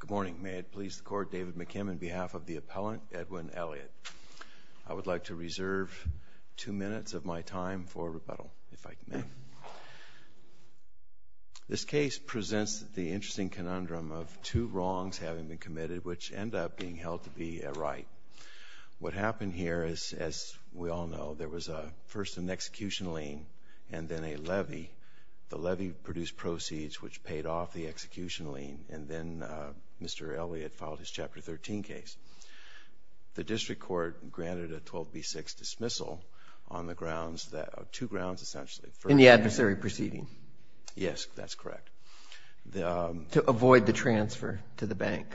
Good morning. May it please the Court, David McKim, on behalf of the appellant, Edwin Elliott. I would like to reserve two minutes of my time for rebuttal, if I may. This case presents the interesting conundrum of two wrongs having been committed which end up being held to be a right. What happened here is, as we all know, there was first an execution lien and then a levy. The levy produced proceeds which paid off the execution lien. And then Mr. Elliott filed his Chapter 13 case. The district court granted a 12B6 dismissal on the grounds that – two grounds, essentially. In the adversary proceeding. Yes, that's correct. To avoid the transfer to the bank.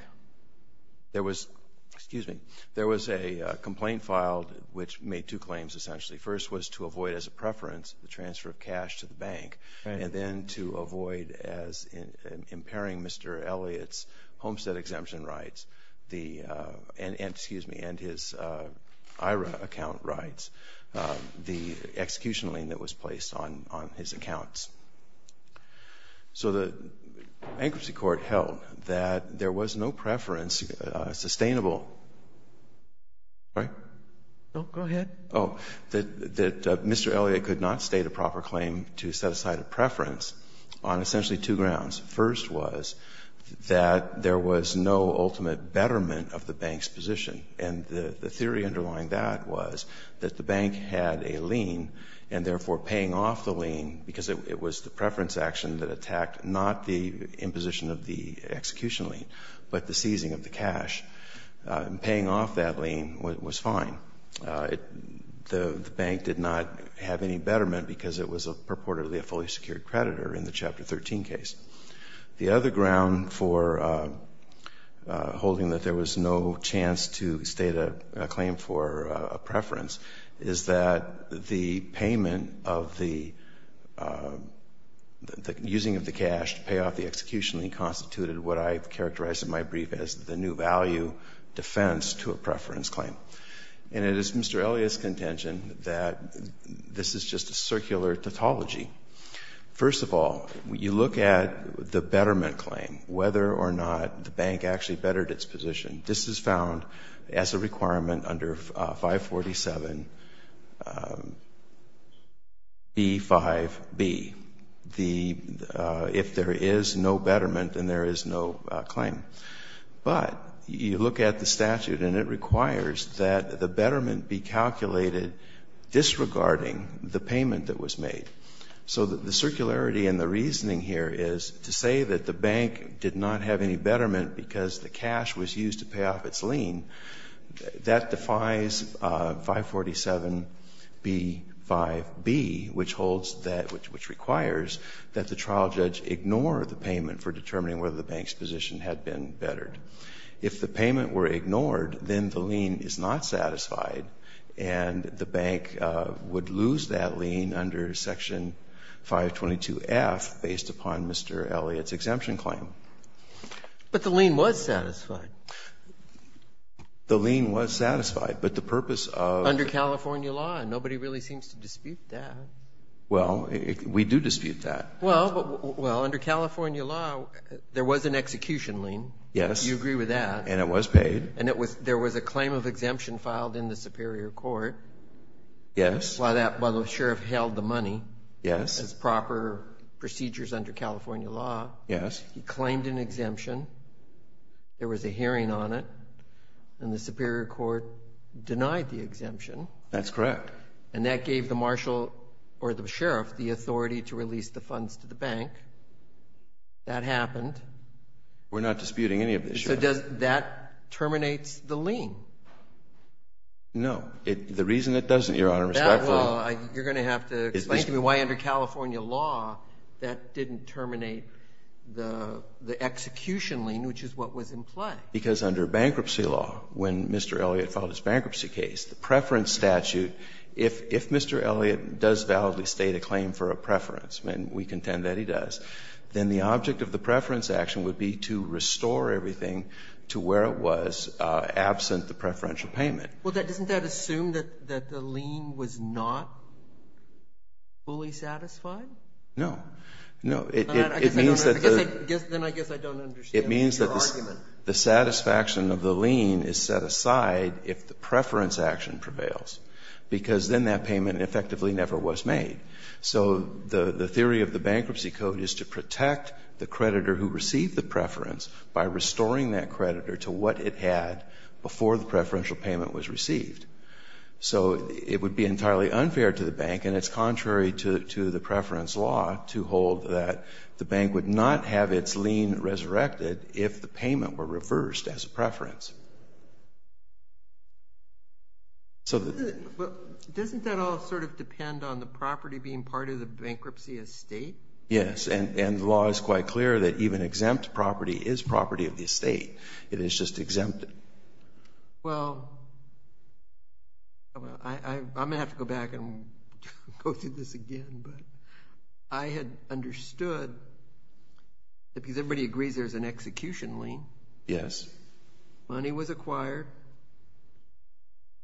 There was – excuse me – there was a complaint filed which made two claims, essentially. First was to avoid, as a preference, the transfer of cash to the bank. And then to avoid as impairing Mr. Elliott's homestead exemption rights. The – and – excuse me – and his IRA account rights. The execution lien that was placed on his accounts. So the bankruptcy court held that there was no preference sustainable – right? Go ahead. Oh, that Mr. Elliott could not state a proper claim to set aside a preference on essentially two grounds. First was that there was no ultimate betterment of the bank's position. And the theory underlying that was that the bank had a lien and therefore paying off the lien, because it was the preference action that attacked not the imposition of the execution lien, but the seizing of the cash. And paying off that lien was fine. The bank did not have any betterment because it was purportedly a fully secured creditor in the Chapter 13 case. The other ground for holding that there was no chance to state a claim for a preference is that the payment of the – the using of the cash to pay off the execution lien constituted what I've characterized in my brief as the new value defense to a preference claim. And it is Mr. Elliott's contention that this is just a circular tautology. First of all, you look at the betterment claim, whether or not the bank actually bettered its position. This is found as a requirement under 547B5B. If there is no betterment, then there is no claim. But you look at the statute and it requires that the betterment be calculated disregarding the payment that was made. So the circularity and the reasoning here is to say that the bank did not have any betterment because the cash was used to pay off its lien, that defies 547B5B, which holds that – which requires that the trial judge ignore the payment for determining whether the bank's position had been bettered. If the payment were ignored, then the lien is not satisfied and the bank would lose that lien under Section 522F based upon Mr. Elliott's exemption claim. But the lien was satisfied. The lien was satisfied, but the purpose of the – Well, we do dispute that. Well, under California law, there was an execution lien. Yes. You agree with that. And it was paid. And there was a claim of exemption filed in the Superior Court. Yes. While the sheriff held the money. Yes. As proper procedures under California law. Yes. He claimed an exemption. There was a hearing on it. And the Superior Court denied the exemption. That's correct. And that gave the marshal or the sheriff the authority to release the funds to the bank. That happened. We're not disputing any of this, Your Honor. So does – that terminates the lien? No. The reason it doesn't, Your Honor, respectfully – That – well, you're going to have to explain to me why under California law that didn't terminate the execution lien, which is what was implied. Because under bankruptcy law, when Mr. Elliott filed his bankruptcy case, the preference statute, if Mr. Elliott does validly state a claim for a preference, and we contend that he does, then the object of the preference action would be to restore everything to where it was absent the preferential payment. Well, doesn't that assume that the lien was not fully satisfied? No. No. It means that the – Then I guess I don't understand your argument. The satisfaction of the lien is set aside if the preference action prevails, because then that payment effectively never was made. So the theory of the Bankruptcy Code is to protect the creditor who received the preference by restoring that creditor to what it had before the preferential payment was received. So it would be entirely unfair to the bank, and it's contrary to the preference law to hold that the bank would not have its lien resurrected if the payment were reversed as a preference. So the – But doesn't that all sort of depend on the property being part of the bankruptcy estate? Yes, and the law is quite clear that even exempt property is property of the estate. It is just exempted. Well, I'm going to have to go back and go through this again. But I had understood that because everybody agrees there's an execution lien. Yes. Money was acquired.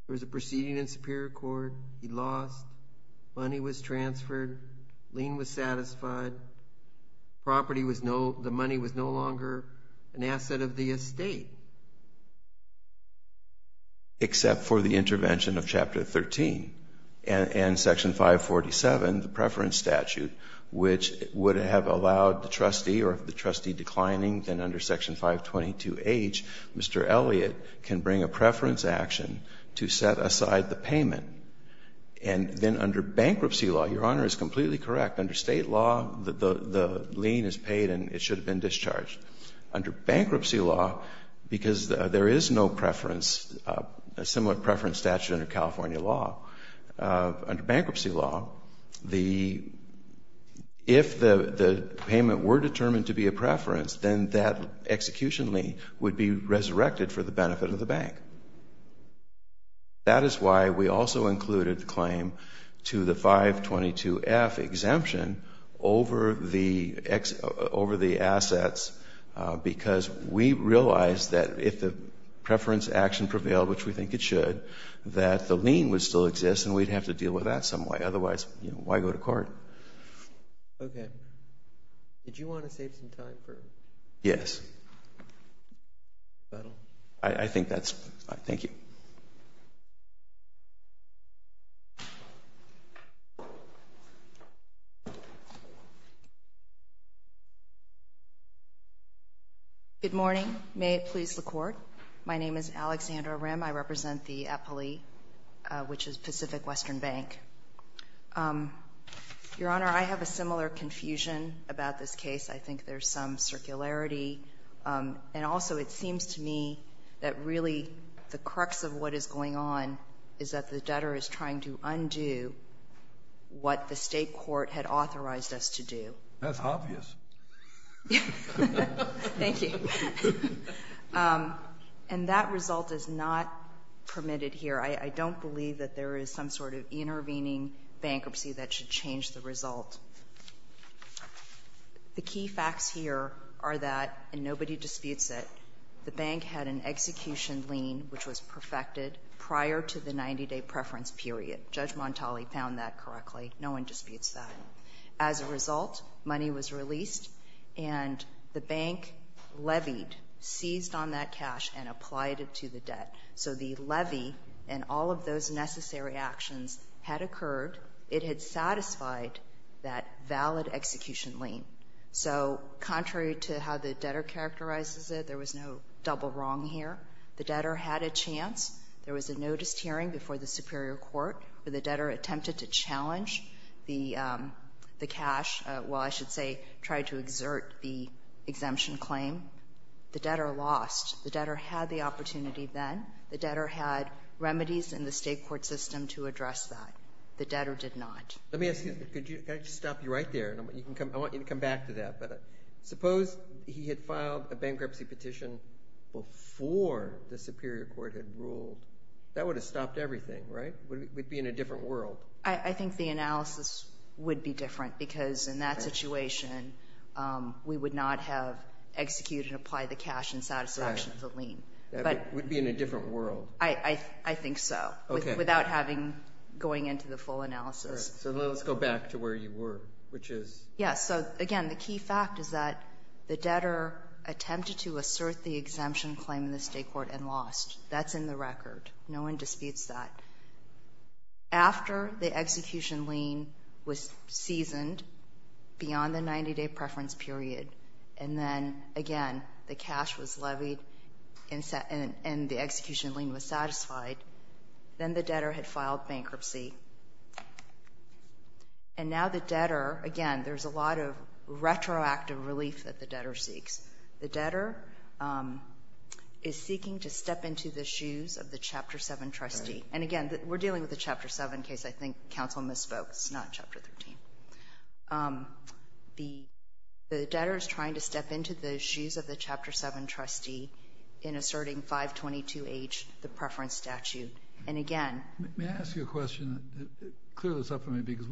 There was a proceeding in Superior Court. Money was transferred. Lien was satisfied. Property was no – the money was no longer an asset of the estate. Except for the intervention of Chapter 13 and Section 547, the preference statute, which would have allowed the trustee or the trustee declining. Then under Section 522H, Mr. Elliott can bring a preference action to set aside the payment. And then under bankruptcy law, Your Honor, is completely correct. Under state law, the lien is paid and it should have been discharged. Under bankruptcy law, because there is no preference – a similar preference statute under California law, under bankruptcy law, the – if the payment were determined to be a preference, then that execution lien would be resurrected for the benefit of the bank. That is why we also included the claim to the 522F exemption over the – over the assets, because we realized that if the preference action prevailed, which we think it should, that the lien would still exist and we'd have to deal with that some way. Otherwise, you know, why go to court? Okay. Did you want to save some time for – Yes. Is that all? I think that's – thank you. Good morning. May it please the Court. My name is Alexandra Rim. I represent the EPALI, which is Pacific Western Bank. Your Honor, I have a similar confusion about this case. I think there's some circularity, and also it seems to me that really the crux of what is going on is that the debtor is trying to undo what the state court had authorized us to do. That's obvious. Thank you. And that result is not permitted here. I don't believe that there is some sort of intervening bankruptcy that should change the result. The key facts here are that, and nobody disputes it, the bank had an execution lien which was perfected prior to the 90-day preference period. Judge Montali found that correctly. No one disputes that. As a result, money was released, and the bank levied, seized on that cash, and applied it to the debt. So the levy and all of those necessary actions had occurred. It had satisfied that valid execution lien. So contrary to how the debtor characterizes it, there was no double wrong here. The debtor had a chance. There was a noticed hearing before the Superior Court where the debtor attempted to challenge the cash, well, I should say tried to exert the exemption claim. The debtor lost. The debtor had the opportunity then. The debtor had remedies in the state court system to address that. The debtor did not. Let me ask you, can I just stop you right there? I want you to come back to that. Suppose he had filed a bankruptcy petition before the Superior Court had ruled. That would have stopped everything, right? We'd be in a different world. I think the analysis would be different because in that situation, we would not have executed and applied the cash in satisfaction of the lien. We'd be in a different world. I think so. Without having going into the full analysis. So let's go back to where you were, which is? Yes, so again, the key fact is that the debtor attempted to assert the exemption claim in the state court and lost. That's in the record. No one disputes that. After the execution lien was seasoned beyond the 90-day preference period, and then again, the cash was levied and the execution lien was satisfied, then the debtor had filed bankruptcy. And now the debtor, again, there's a lot of retroactive relief that the debtor seeks. The debtor is seeking to step into the shoes of the Chapter 7 trustee. And again, we're dealing with a Chapter 7 case. I think counsel misspoke. It's not Chapter 13. The debtor is trying to step into the shoes of the Chapter 7 trustee in asserting 522H, the preference statute. And again- May I ask you a question? Clear this up for me because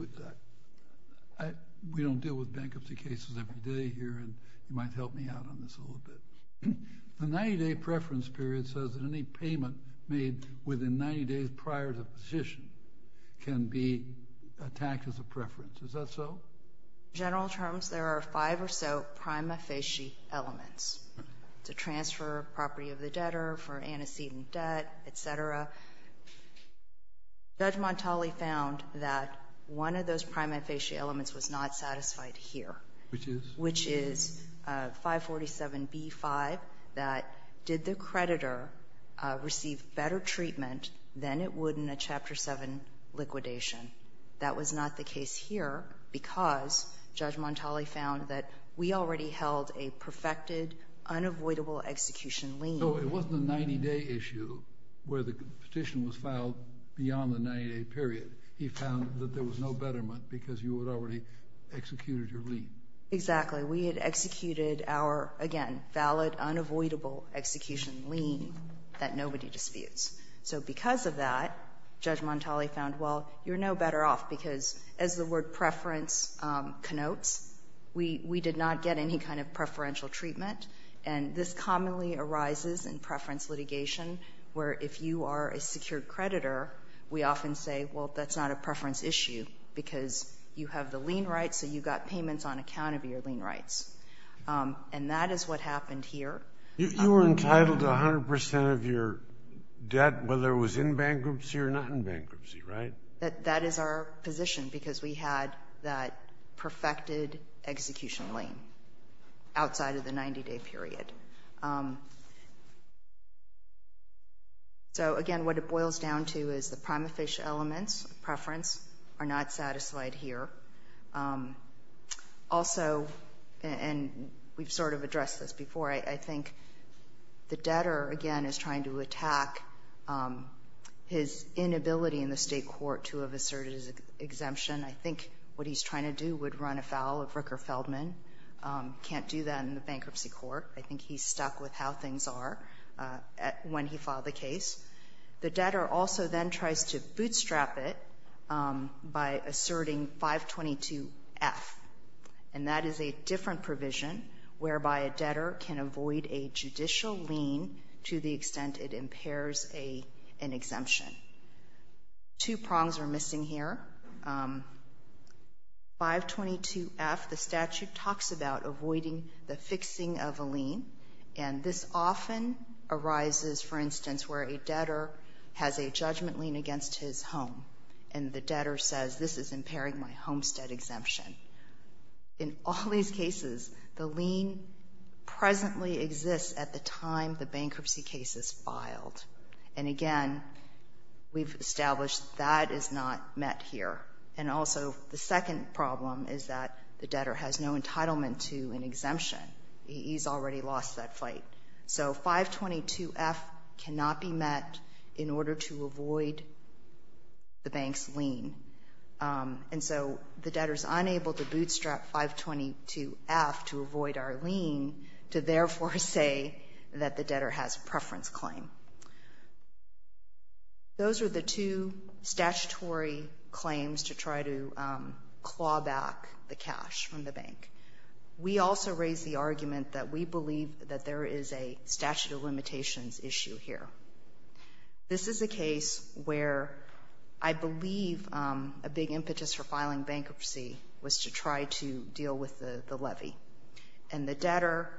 we don't deal with bankruptcy cases every day here and you might help me out on this a little bit. The 90-day preference period says that any payment made within 90 days prior to position can be attacked as a preference. Is that so? In general terms, there are five or so prima facie elements to transfer property of the debtor, for antecedent debt, et cetera. Judge Montali found that one of those prima facie elements was not satisfied here. Which is? Which is 547B5, that did the creditor receive better treatment than it would in a Chapter 7 liquidation. That was not the case here because Judge Montali found that we already held a perfected, unavoidable execution lien. So it wasn't a 90-day issue where the petition was filed beyond the 90-day period. He found that there was no betterment because you had already executed your lien. Exactly. We had executed our, again, valid, unavoidable execution lien that nobody disputes. So because of that, Judge Montali found, well, you're no better off because as the word preference connotes, we did not get any kind of preferential treatment, and this commonly arises in preference litigation where if you are a secured creditor, we often say, well, that's not a preference issue because you have the lien rights, so you got payments on account of your lien rights. And that is what happened here. You were entitled to 100% of your debt whether it was in bankruptcy or not in bankruptcy, right? That is our position because we had that perfected execution lien outside of the 90-day period. So, again, what it boils down to is the prima facie elements of preference are not satisfied here. Also, and we've sort of addressed this before, I think the debtor, again, is trying to attack his inability in the State court to have asserted his exemption. I think what he's trying to do would run afoul of Ricker Feldman. Can't do that in the bankruptcy court. I think he's stuck with how things are when he filed the case. The debtor also then tries to bootstrap it by asserting 522F, and that is a different provision whereby a debtor can avoid a judicial lien to the extent it impairs an exemption. Two prongs are missing here. 522F, the statute talks about avoiding the fixing of a lien, and this often arises, for instance, where a debtor has a judgment lien against his home, and the debtor says, this is impairing my homestead exemption. In all these cases, the lien presently exists at the time the bankruptcy case is filed, and, again, we've established that is not met here. And also, the second problem is that the debtor has no entitlement to an exemption. He's already lost that fight. So 522F cannot be met in order to avoid the bank's lien, and so the debtor is unable to bootstrap 522F to avoid our lien to therefore say that the debtor has preference claim. Those are the two statutory claims to try to claw back the cash from the bank. We also raise the argument that we believe that there is a statute of limitations issue here. This is a case where I believe a big impetus for filing bankruptcy was to try to deal with the levy, and the debtor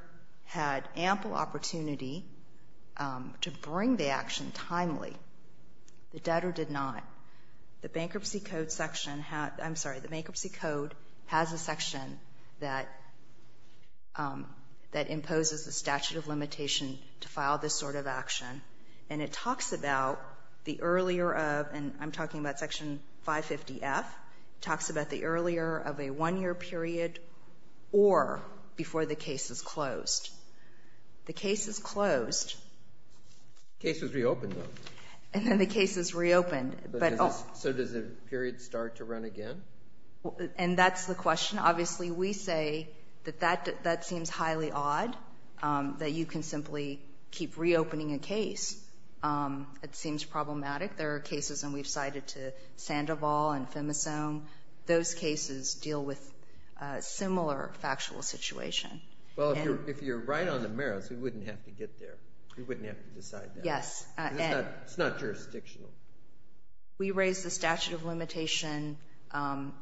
had ample opportunity to bring the action timely. The debtor did not. The Bankruptcy Code section has the Bankruptcy Code has a section that imposes the statute of limitation to file this sort of action, and it talks about the earlier of, and I'm talking about section 550F, talks about the earlier of a one-year period or before the case is closed. The case is closed. The case is reopened, though. And then the case is reopened. So does the period start to run again? And that's the question. Obviously, we say that that seems highly odd, that you can simply keep reopening a case. It seems problematic. There are cases, and we've cited to Sandoval and Femisone. Those cases deal with a similar factual situation. Well, if you're right on the merits, we wouldn't have to get there. We wouldn't have to decide that. Yes. It's not jurisdictional. We raised the statute of limitation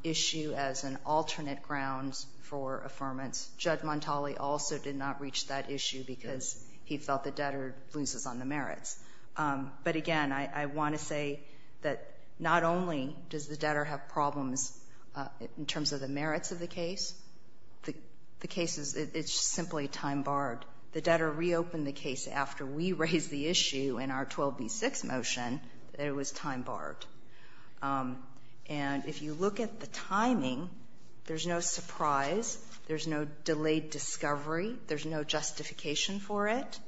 issue as an alternate ground for affirmance. Judge Montali also did not reach that issue because he felt the debtor loses on the merits. But again, I want to say that not only does the debtor have problems in terms of the merits of the case, the case is simply time barred. The debtor reopened the case after we raised the issue in our 12B6 motion that it was time barred. And if you look at the timing, there's no surprise. There's no delayed discovery. There's no justification for it.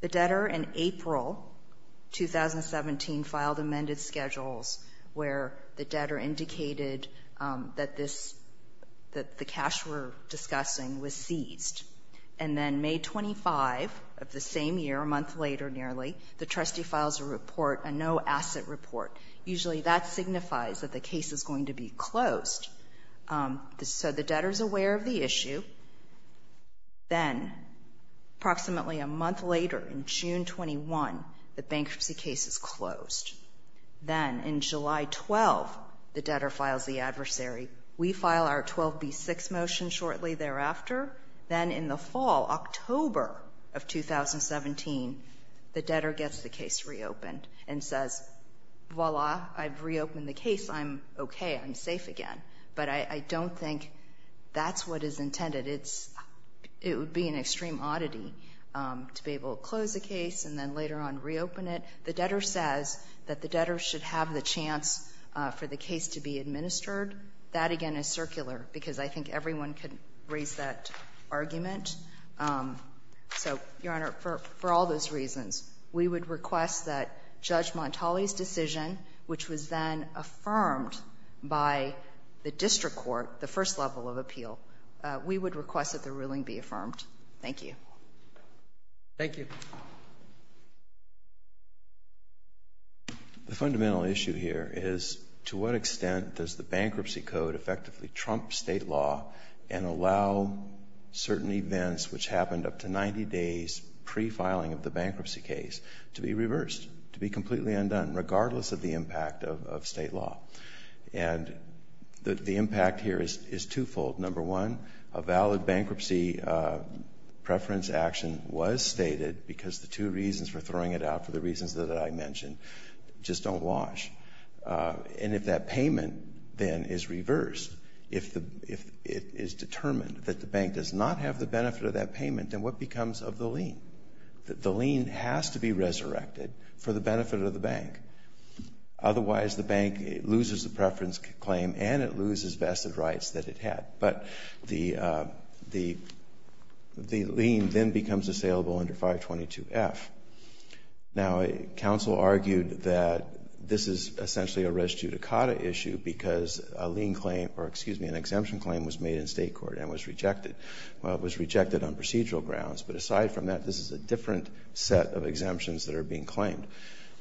The debtor in April 2017 filed amended schedules where the debtor indicated that the cash we're discussing was seized. And then May 25 of the same year, a month later nearly, the trustee files a report, a no-asset report. Usually that signifies that the case is going to be closed. So the debtor is aware of the issue. Then approximately a month later in June 21, the bankruptcy case is closed. Then in July 12, the debtor files the adversary. We file our 12B6 motion shortly thereafter. Then in the fall, October of 2017, the debtor gets the case reopened and says, voila, I've reopened the case. I'm okay. I'm safe again. But I don't think that's what is intended. It's – it would be an extreme oddity to be able to close a case and then later on reopen it. The debtor says that the debtor should have the chance for the case to be administered. That, again, is circular because I think everyone could raise that argument. So, Your Honor, for all those reasons, we would request that Judge Montali's decision, which was then affirmed by the district court, the first level of appeal, we would request that the ruling be affirmed. Thank you. Thank you. The fundamental issue here is to what extent does the bankruptcy code effectively trump state law and allow certain events which happened up to 90 days pre-filing of the bankruptcy case to be reversed, to be completely undone, regardless of the impact of state law? And the impact here is twofold. Number one, a valid bankruptcy preference action was stated because the two reasons for throwing it out for the reasons that I mentioned just don't wash. And if that payment then is reversed, if it is determined that the bank does not have the benefit of that payment, then what becomes of the lien? The lien has to be resurrected for the benefit of the bank. Otherwise, the bank loses the preference claim and it loses vested rights that it had. But the lien then becomes assailable under 522F. Now, counsel argued that this is essentially a res judicata issue because a lien claim was made in State court and was rejected. Well, it was rejected on procedural grounds. But aside from that, this is a different set of exemptions that are being claimed.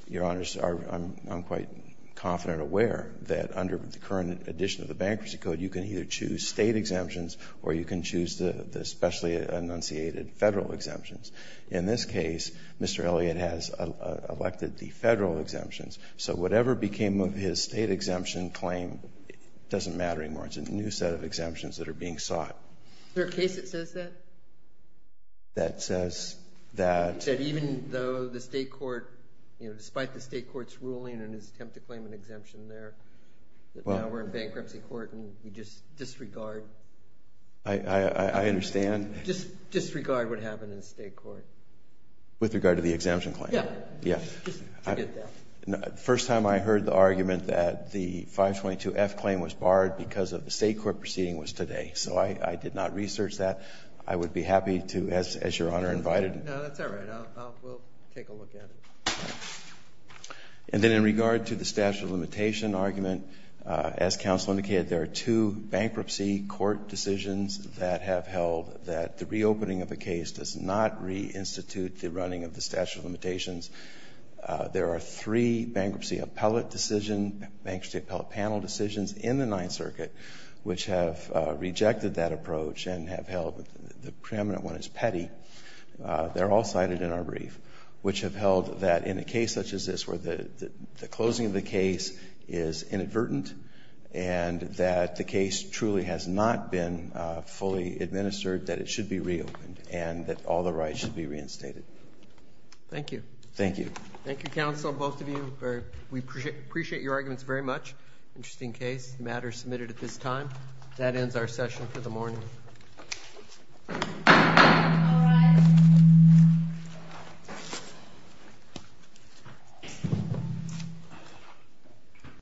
Your Honors, I'm quite confident and aware that under the current edition of the bankruptcy code, you can either choose State exemptions or you can choose the specially enunciated Federal exemptions. In this case, Mr. Elliott has elected the Federal exemptions. So whatever became of his State exemption claim doesn't matter anymore. It becomes a new set of exemptions that are being sought. Is there a case that says that? That says that? That even though the State court, you know, despite the State court's ruling and his attempt to claim an exemption there, that now we're in bankruptcy court and we just disregard. I understand. Just disregard what happened in State court. With regard to the exemption claim? Yeah. Yeah. Just forget that. The first time I heard the argument that the 522F claim was barred because of the State court proceeding was today. So I did not research that. I would be happy to, as Your Honor invited. No, that's all right. We'll take a look at it. And then in regard to the statute of limitation argument, as Counsel indicated, there are two bankruptcy court decisions that have held that the reopening of a case does not reinstitute the running of the statute of limitations. There are three bankruptcy appellate decision, bankruptcy appellate panel decisions in the Ninth Circuit which have rejected that approach and have held the preeminent one is petty. They're all cited in our brief, which have held that in a case such as this where the closing of the case is inadvertent and that the case truly has not been fully administered that it should be reopened and that all the rights should be reinstated. Thank you. Thank you. Thank you, Counsel. Both of you. We appreciate your arguments very much. Interesting case. The matter is submitted at this time. That ends our session for the morning. All rise.